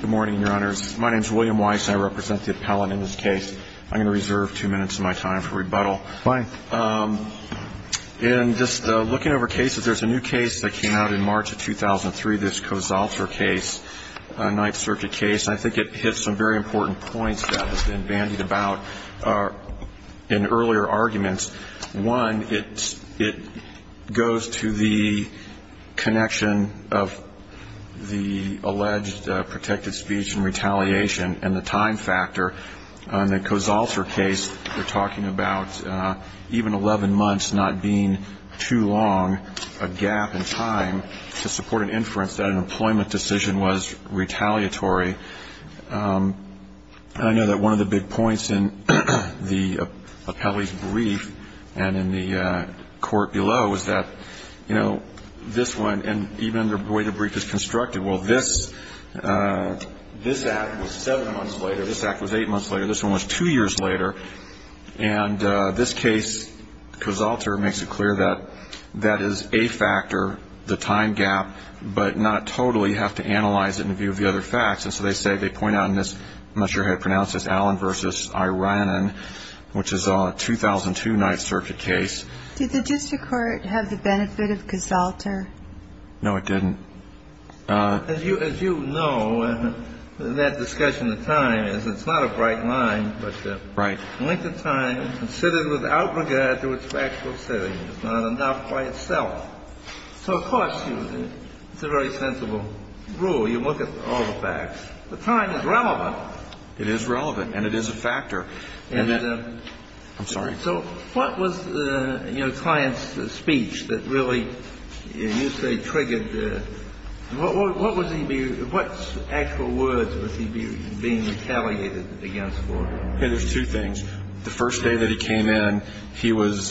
Good morning, your honors. My name is William Weiss, and I represent the appellant in this case. I'm going to reserve two minutes of my time for rebuttal. Fine. In just looking over cases, there's a new case that came out in March of 2003, this Kosalter case, a ninth circuit case. I think it hits some very important points that have been bandied about in earlier arguments. One, it goes to the connection of the alleged protected speech and retaliation and the time factor. In the Kosalter case, we're talking about even 11 months not being too long a gap in time to support an inference that an employment decision was retaliatory. I know that one of the big points in the appellee's brief and in the court below is that, you know, this one, and even the way the brief is constructed, well, this act was seven months later, this act was eight months later, this one was two years later, and this case, Kosalter, makes it clear that that is a factor, the time gap, but not totally. You have to analyze it in view of the other facts. And so they say, they point out in this, I'm not sure how to pronounce this, Allen v. Iranen, which is a 2002 ninth circuit case. Did the district court have the benefit of Kosalter? No, it didn't. As you know, in that discussion of time, it's not a bright line, but the length of time is considered without regard to its factual setting. It's not enough by itself. So, of course, it's a very sensible rule. You look at all the facts. The time is relevant. It is relevant, and it is a factor. And then the – I'm sorry. So what was the, you know, client's speech that really, you say, triggered the – what was he – what actual words was he being retaliated against for? There's two things. The first day that he came in, he was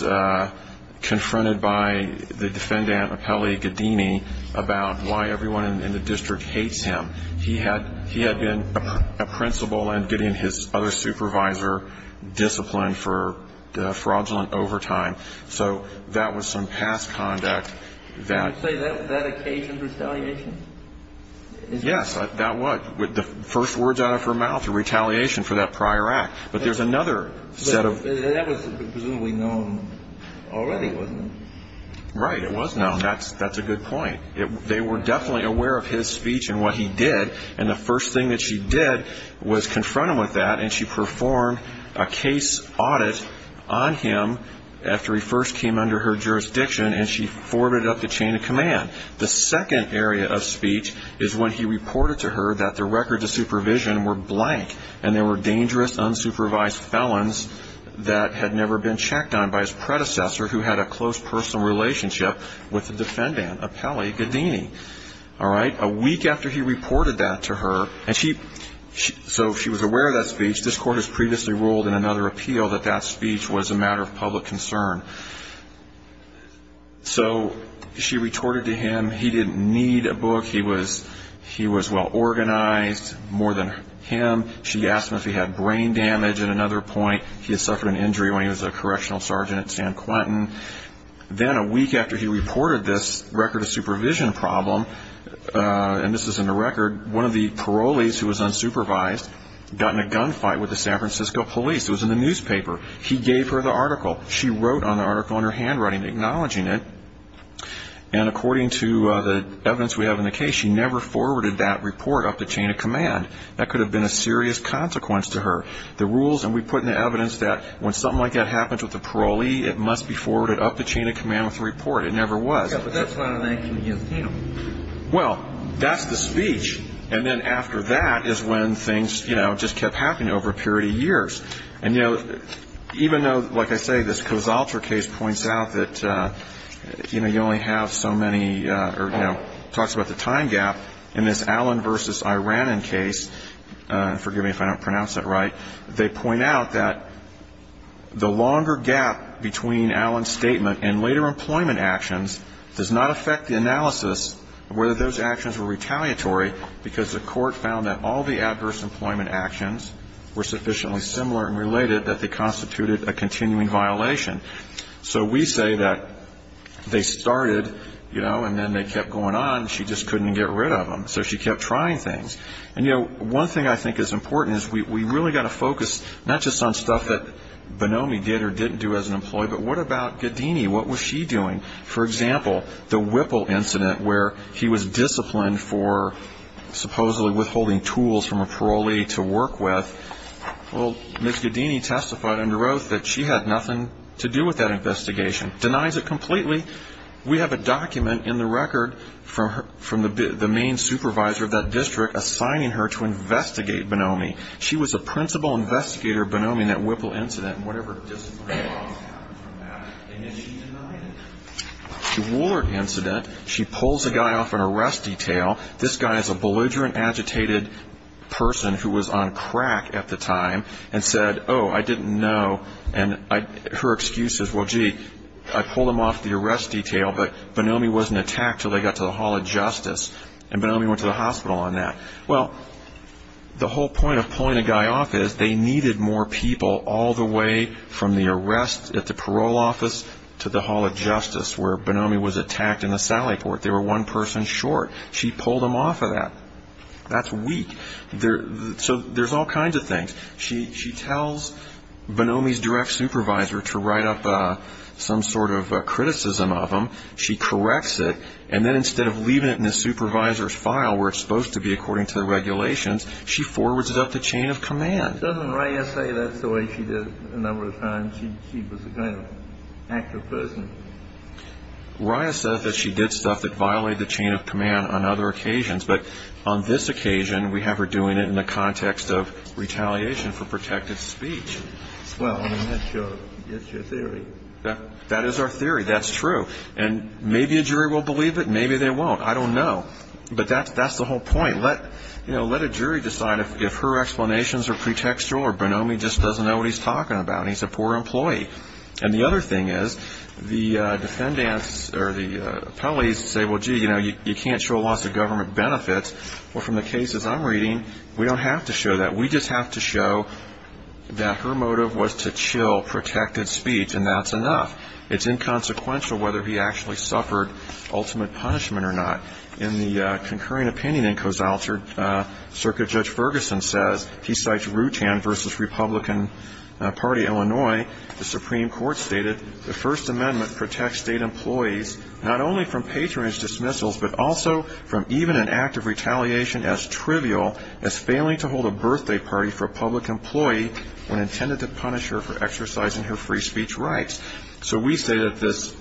confronted by the defendant, Apelli Gaddini, about why everyone in the district hates him. He had been a principal and Gaddini and his other supervisor disciplined for fraudulent overtime. So that was some past conduct that – Can you say that occasioned retaliation? Yes, that was. The first words out of her mouth, retaliation for that prior act. But there's another set of – That was presumably known already, wasn't it? Right. It was known. That's a good point. They were definitely aware of his speech and what he did, and the first thing that she did was confront him with that, and she performed a case audit on him after he first came under her jurisdiction, and she forwarded up the chain of command. The second area of speech is when he reported to her that the records of supervision were blank and there were dangerous, unsupervised felons that had never been checked on by his predecessor, who had a close personal relationship with the defendant, Apelli Gaddini. All right? A week after he reported that to her, and she – so she was aware of that speech. This court has previously ruled in another appeal that that speech was a matter of public concern. So she retorted to him. He didn't need a book. He was well organized, more than him. She asked him if he had brain damage at another point. He had suffered an injury when he was a correctional sergeant at San Quentin. Then a week after he reported this record of supervision problem, and this is in the record, one of the parolees who was unsupervised got in a gunfight with the San Francisco police. It was in the newspaper. He gave her the article. She wrote an article in her handwriting acknowledging it. And according to the evidence we have in the case, she never forwarded that report up the chain of command. That could have been a serious consequence to her. The rules – and we put in the evidence that when something like that happens with a parolee, it must be forwarded up the chain of command with a report. It never was. Yeah, but that's not an action against him. Well, that's the speech. And then after that is when things, you know, just kept happening over a period of years. And, you know, even though, like I say, this Casaltra case points out that, you know, you only have so many – or, you know, talks about the time gap. In this Allen v. Iranen case – forgive me if I don't pronounce that right – they point out that the longer gap between Allen's statement and later employment actions does not affect the analysis of whether those actions were retaliatory because the court found that all the adverse employment actions were sufficiently similar and related that they constituted a continuing violation. So we say that they started, you know, and then they kept going on. She just couldn't get rid of them, so she kept trying things. And, you know, one thing I think is important is we've really got to focus not just on stuff that Bonomi did or didn't do as an employee, but what about Gaddini? What was she doing? For example, the Whipple incident where he was disciplined for supposedly withholding tools from a parolee to work with. Well, Ms. Gaddini testified under oath that she had nothing to do with that investigation. Denies it completely. We have a document in the record from the main supervisor of that district assigning her to investigate Bonomi. She was a principal investigator of Bonomi in that Whipple incident. And whatever disciplinary laws happened from that, and yet she denied it. The Woolard incident, she pulls a guy off an arrest detail. This guy is a belligerent, agitated person who was on crack at the time and said, oh, I didn't know. And her excuse is, well, gee, I pulled him off the arrest detail, but Bonomi wasn't attacked until they got to the Hall of Justice, and Bonomi went to the hospital on that. Well, the whole point of pulling a guy off is they needed more people all the way from the arrest at the parole office to the Hall of Justice where Bonomi was attacked in the sally port. They were one person short. She pulled him off of that. That's weak. So there's all kinds of things. She tells Bonomi's direct supervisor to write up some sort of criticism of him. She corrects it. And then instead of leaving it in the supervisor's file where it's supposed to be according to the regulations, she forwards it up the chain of command. Doesn't Raya say that's the way she did it a number of times? She was a kind of active person. Raya says that she did stuff that violated the chain of command on other occasions. But on this occasion, we have her doing it in the context of retaliation for protective speech. Well, I mean, that's your theory. That is our theory. That's true. And maybe a jury will believe it, maybe they won't. I don't know. But that's the whole point. Let a jury decide if her explanations are pretextual or Bonomi just doesn't know what he's talking about and he's a poor employee. And the other thing is the defendants or the appellees say, well, gee, you can't show lots of government benefits. Well, from the cases I'm reading, we don't have to show that. We just have to show that her motive was to chill protected speech, and that's enough. It's inconsequential whether he actually suffered ultimate punishment or not. In the concurring opinion in Cozalter, Circuit Judge Ferguson says, he cites Rutan v. Republican Party, Illinois. The Supreme Court stated the First Amendment protects state employees not only from patronage dismissals but also from even an act of retaliation as trivial as failing to hold a birthday party for a public employee when intended to punish her for exercising her free speech rights. So we say that this,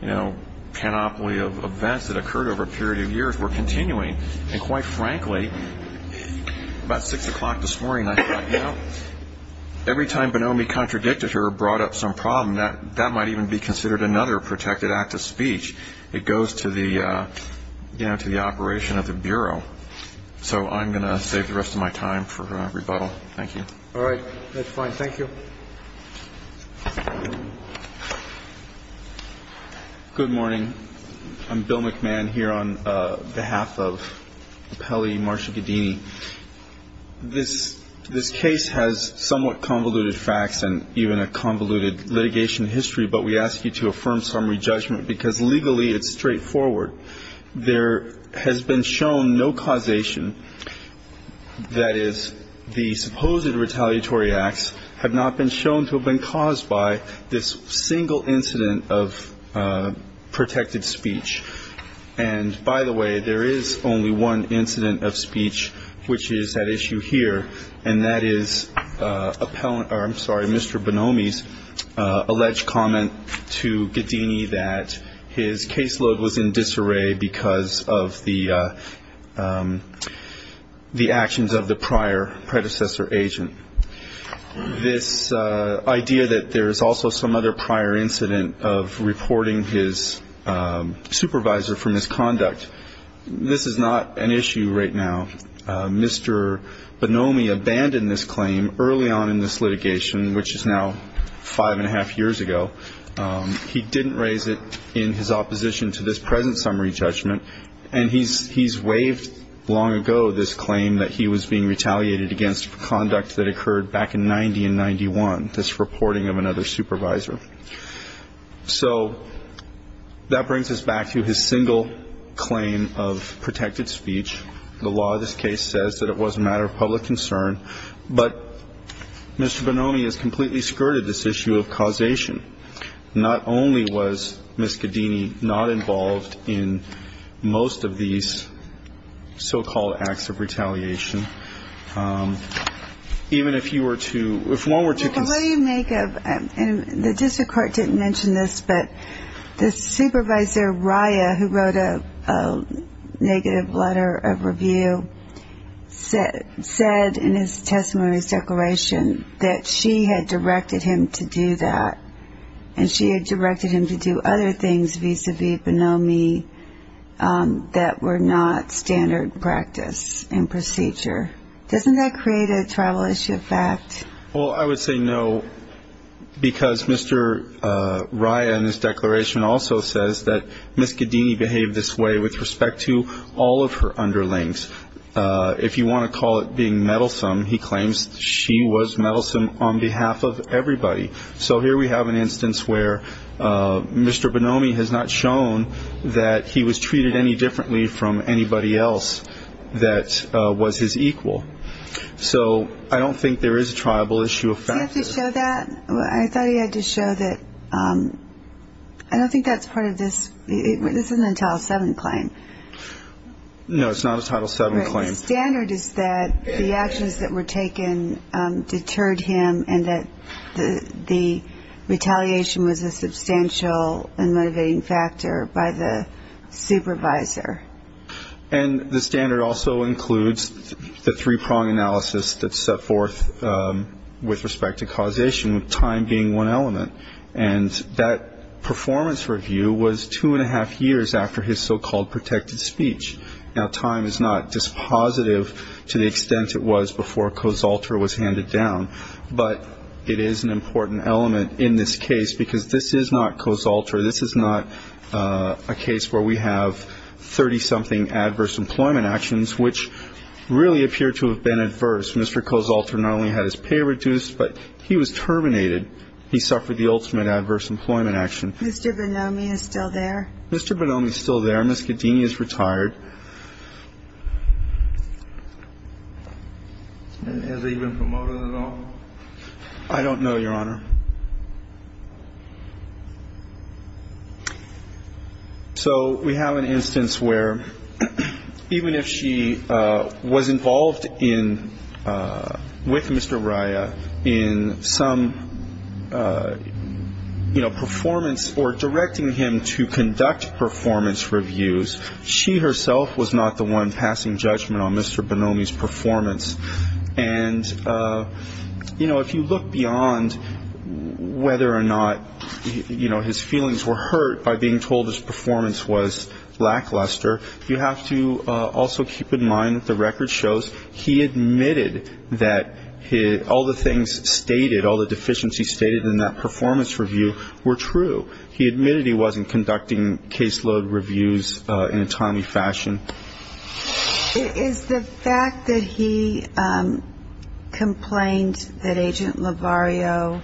you know, panoply of events that occurred over a period of years were continuing. And quite frankly, about 6 o'clock this morning, I thought, you know, every time Bonomi contradicted her or brought up some problem, that might even be considered another protected act of speech. It goes to the operation of the Bureau. So I'm going to save the rest of my time for rebuttal. Thank you. All right. That's fine. Thank you. Good morning. I'm Bill McMahon here on behalf of Appellee Marsha Gaddini. This case has somewhat convoluted facts and even a convoluted litigation history, but we ask you to affirm summary judgment because legally it's straightforward. There has been shown no causation, that is, the supposed retaliatory acts have not been shown to have been caused by this single incident of protected speech. And by the way, there is only one incident of speech which is at issue here, and that is Mr. Bonomi's alleged comment to Gaddini that his caseload was in disrepair because of the actions of the prior predecessor agent. This idea that there is also some other prior incident of reporting his supervisor for misconduct, this is not an issue right now. Mr. Bonomi abandoned this claim early on in this litigation, which is now five and a half years ago. He didn't raise it in his opposition to this present summary judgment, and he's waived long ago this claim that he was being retaliated against for conduct that occurred back in 1990 and 1991, this reporting of another supervisor. So that brings us back to his single claim of protected speech. The law of this case says that it was a matter of public concern, but Mr. Bonomi has completely skirted this issue of causation. Not only was Ms. Gaddini not involved in most of these so-called acts of retaliation, even if you were to, if one were to. Before you make a, and the district court didn't mention this, but the supervisor, Raya, who wrote a negative letter of review, said in his testimony's declaration that she had directed him to do that, and she had directed him to do other things vis-à-vis Bonomi that were not standard practice and procedure. Doesn't that create a tribal issue of fact? Well, I would say no, because Mr. Raya in his declaration also says that Ms. Gaddini behaved this way with respect to all of her underlings. If you want to call it being meddlesome, he claims she was meddlesome on behalf of everybody. So here we have an instance where Mr. Bonomi has not shown that he was treated any differently from anybody else that was his equal. So I don't think there is a tribal issue of fact. Did he have to show that? I thought he had to show that. I don't think that's part of this. This isn't a Title VII claim. No, it's not a Title VII claim. The standard is that the actions that were taken deterred him and that the retaliation was a substantial and motivating factor by the supervisor. And the standard also includes the three-prong analysis that's set forth with respect to causation, with time being one element. And that performance review was two and a half years after his so-called protected speech. Now, time is not dispositive to the extent it was before co-zalter was handed down, but it is an important element in this case because this is not co-zalter. This is not a case where we have 30-something adverse employment actions, which really appear to have been adverse. Mr. Co-zalter not only had his pay reduced, but he was terminated. He suffered the ultimate adverse employment action. Mr. Bonomi is still there? Mr. Bonomi is still there. Ms. Gaddini is retired. Has he been promoted at all? I don't know, Your Honor. So we have an instance where even if she was involved in, with Mr. Raya in some, you know, performance or directing him to conduct performance reviews, she herself was not the one passing judgment on Mr. Bonomi's performance. And, you know, if you look beyond whether or not, you know, his feelings were hurt by being told his performance was lackluster, you have to also keep in mind that the record shows he admitted that all the things stated, all the deficiencies stated in that performance review were true. He admitted he wasn't conducting caseload reviews in a timely fashion. Is the fact that he complained that Agent Lovario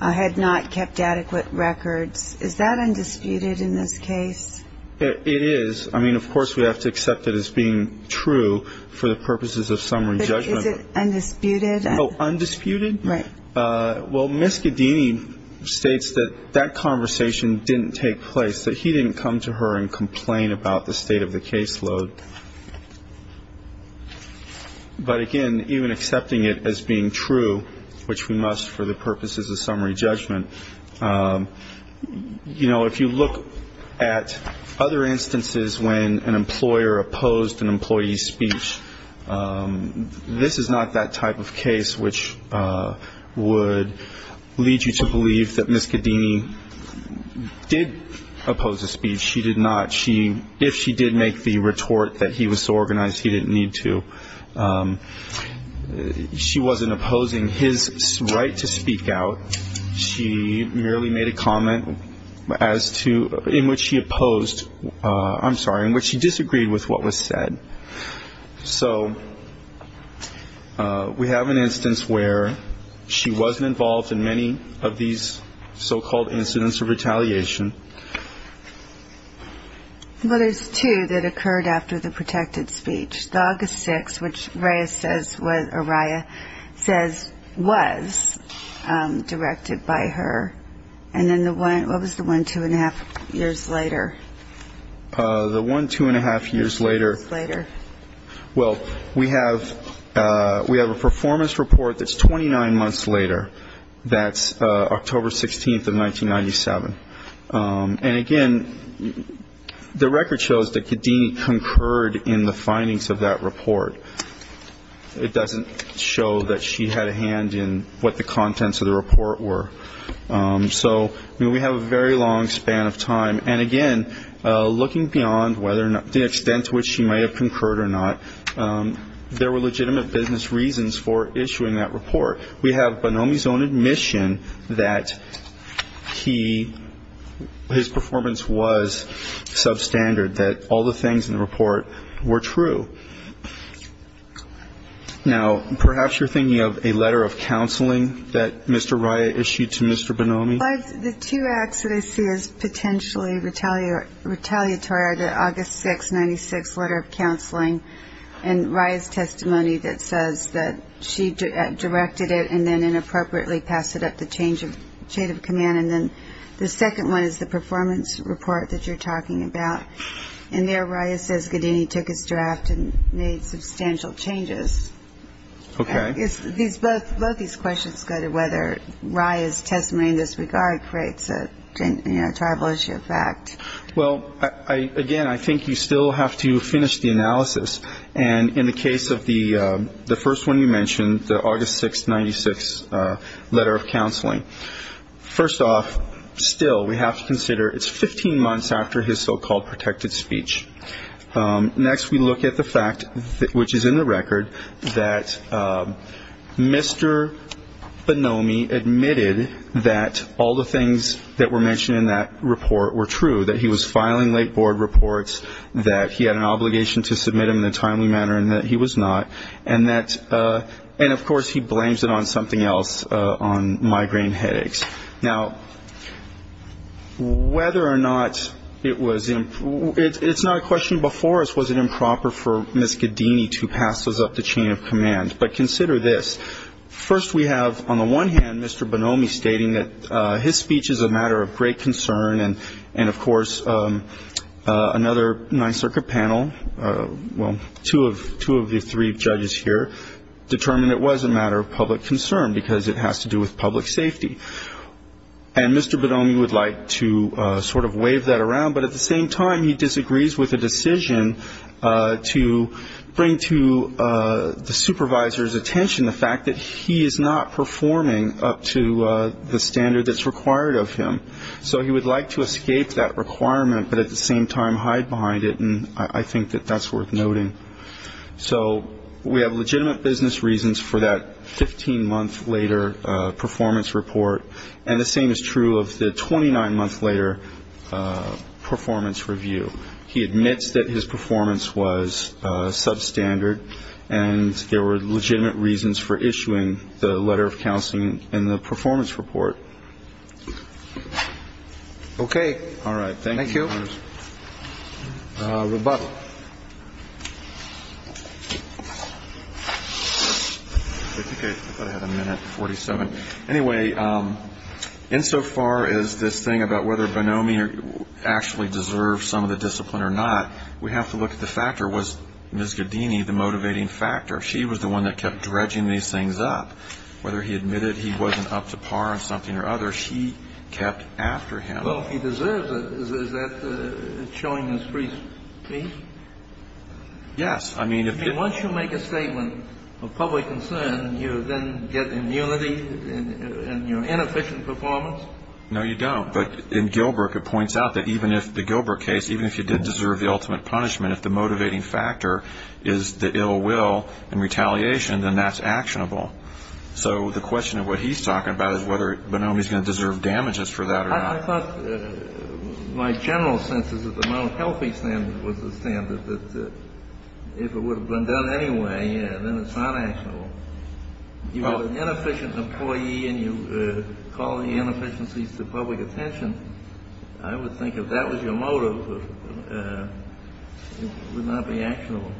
had not kept adequate records, is that undisputed in this case? It is. I mean, of course we have to accept it as being true for the purposes of summary judgment. But is it undisputed? Oh, undisputed? Right. Well, Ms. Gaddini states that that conversation didn't take place, that he didn't come to her and complain about the state of the caseload. But, again, even accepting it as being true, which we must for the purposes of summary judgment, you know, if you look at other instances when an employer opposed an employee's speech, this is not that type of case which would lead you to believe that Ms. Gaddini did oppose a speech. She did not. If she did make the retort that he was so organized, he didn't need to. She wasn't opposing his right to speak out. She merely made a comment in which she opposed ‑‑ I'm sorry, in which she disagreed with what was said. So we have an instance where she wasn't involved in many of these so-called incidents of retaliation. Well, there's two that occurred after the protected speech. The August 6th, which Araya says was directed by her. And then what was the one two and a half years later? The one two and a half years later, well, we have a performance report that's 29 months later. That's October 16th of 1997. And, again, the record shows that Gaddini concurred in the findings of that report. It doesn't show that she had a hand in what the contents of the report were. So we have a very long span of time. And, again, looking beyond the extent to which she might have concurred or not, there were legitimate business reasons for issuing that report. We have Bonomi's own admission that he ‑‑ his performance was substandard, that all the things in the report were true. Now, perhaps you're thinking of a letter of counseling that Mr. Araya issued to Mr. Bonomi. The two acts that I see as potentially retaliatory are the August 6th, 1996 letter of counseling and Araya's testimony that says that she directed it and then inappropriately passed it up the change of command. And then the second one is the performance report that you're talking about. And there Araya says Gaddini took his draft and made substantial changes. Okay. Both these questions go to whether Araya's testimony in this regard creates a tribal issue of fact. Well, again, I think you still have to finish the analysis. And in the case of the first one you mentioned, the August 6th, 1996 letter of counseling, first off, still we have to consider it's 15 months after his so‑called protected speech. Next we look at the fact, which is in the record, that Mr. Bonomi admitted that all the things that were mentioned in that report were true, that he was filing late board reports, that he had an obligation to submit them in a timely manner and that he was not, and of course he blames it on something else, on migraine headaches. Now, whether or not it was ‑‑ it's not a question before us was it improper for Ms. Gaddini to pass those up the chain of command, but consider this. First we have on the one hand Mr. Bonomi stating that his speech is a matter of great concern, and of course another Ninth Circuit panel, well, two of the three judges here, determined it was a matter of public concern, because it has to do with public safety. And Mr. Bonomi would like to sort of wave that around, but at the same time he disagrees with the decision to bring to the supervisor's attention the fact that he is not performing up to the standard that's required of him. So he would like to escape that requirement, but at the same time hide behind it, and I think that that's worth noting. So we have legitimate business reasons for that 15‑month later performance report, and the same is true of the 29‑month later performance review. He admits that his performance was substandard, and there were legitimate reasons for issuing the letter of counseling in the performance report. Okay. All right. Thank you. Rebuttal. I think I had a minute, 47. Anyway, insofar as this thing about whether Bonomi actually deserved some of the discipline or not, we have to look at the factor. Whether it was Ms. Gaddini, the motivating factor, she was the one that kept dredging these things up. Whether he admitted he wasn't up to par in something or other, she kept after him. Well, if he deserves it, is that showing his free speech? Yes. I mean, once you make a statement of public concern, you then get immunity in your inefficient performance? No, you don't. But in Gilbert it points out that even if the Gilbert case, even if you did deserve the ultimate punishment, if the motivating factor is the ill will and retaliation, then that's actionable. So the question of what he's talking about is whether Bonomi's going to deserve damages for that or not. I thought my general sense is that the mental health standard was the standard, that if it would have been done anyway, then it's not actionable. You have an inefficient employee and you call the inefficiencies to public attention. I would think if that was your motive, it would not be actionable.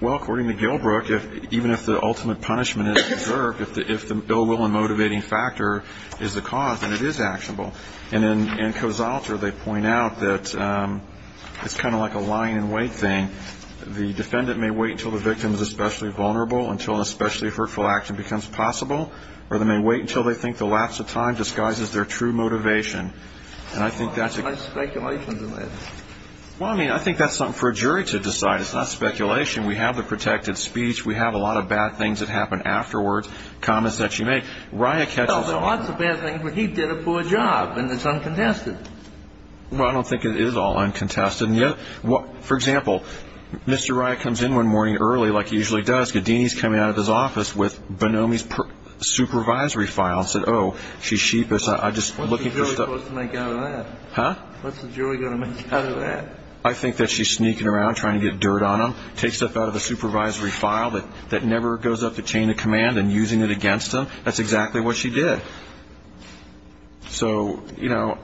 Well, according to Gilbert, even if the ultimate punishment is deserved, if the ill will and motivating factor is the cause, then it is actionable. And in Cozalter they point out that it's kind of like a lying in wait thing. The defendant may wait until the victim is especially vulnerable, until an especially hurtful action becomes possible, or they may wait until they think the lapse of time disguises their true motivation. And I think that's a... There's a lot of nice speculations in that. Well, I mean, I think that's something for a jury to decide. It's not speculation. We have the protected speech. We have a lot of bad things that happen afterwards, comments that you make. Well, there are lots of bad things, but he did a poor job, and it's uncontested. Well, I don't think it is all uncontested. For example, Mr. Riott comes in one morning early like he usually does. Mr. Scodini is coming out of his office with Bonomi's supervisory file. He said, oh, she's sheepish. What's the jury going to make out of that? Huh? What's the jury going to make out of that? I think that she's sneaking around trying to get dirt on him, takes stuff out of a supervisory file that never goes up the chain of command and using it against him. That's exactly what she did. So, you know,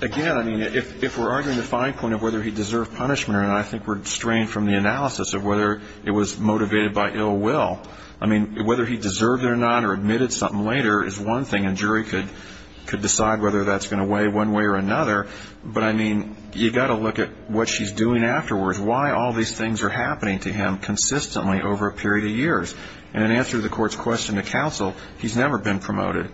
again, I mean, if we're arguing the fine point of whether he deserved punishment, and I think we're straying from the analysis of whether it was motivated by ill will. I mean, whether he deserved it or not or admitted something later is one thing, and a jury could decide whether that's going to weigh one way or another. But, I mean, you've got to look at what she's doing afterwards, why all these things are happening to him consistently over a period of years. And in answer to the court's question to counsel, he's never been promoted.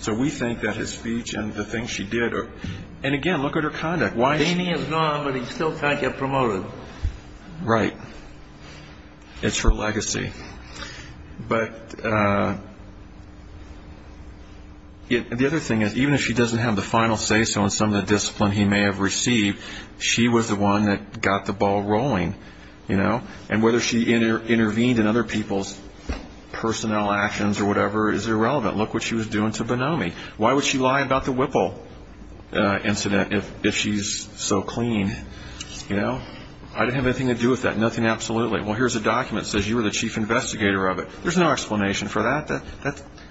So we think that his speech and the things she did are – and, again, look at her conduct. Damien's gone, but he still can't get promoted. Right. It's her legacy. But the other thing is, even if she doesn't have the final say-so in some of the discipline he may have received, she was the one that got the ball rolling, you know. And whether she intervened in other people's personnel actions or whatever is irrelevant. Look what she was doing to Bonomi. Why would she lie about the Whipple incident if she's so clean, you know? I didn't have anything to do with that, nothing absolutely. Well, here's a document that says you were the chief investigator of it. There's no explanation for that.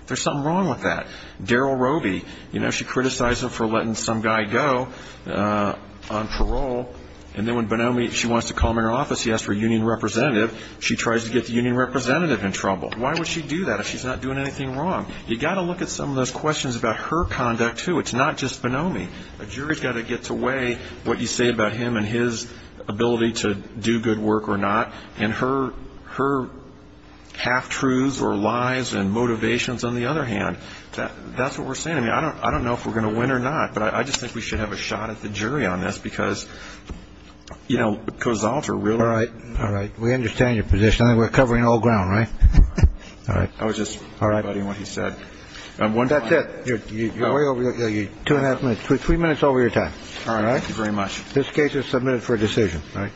There's something wrong with that. Daryl Roby, you know, she criticized him for letting some guy go on parole. And then when Bonomi, she wants to call him in her office, he asked for a union representative. She tries to get the union representative in trouble. Why would she do that if she's not doing anything wrong? You've got to look at some of those questions about her conduct, too. It's not just Bonomi. A jury's got to get to weigh what you say about him and his ability to do good work or not. And her half-truths or lies and motivations, on the other hand, that's what we're seeing. I mean, I don't know if we're going to win or not. But I just think we should have a shot at the jury on this because, you know, Kozolter really – All right, all right. We understand your position. I think we're covering all ground, right? All right. I was just rebutting what he said. That's it. You're way over – two and a half minutes. Three minutes over your time. All right? Thank you very much. This case is submitted for decision. All right.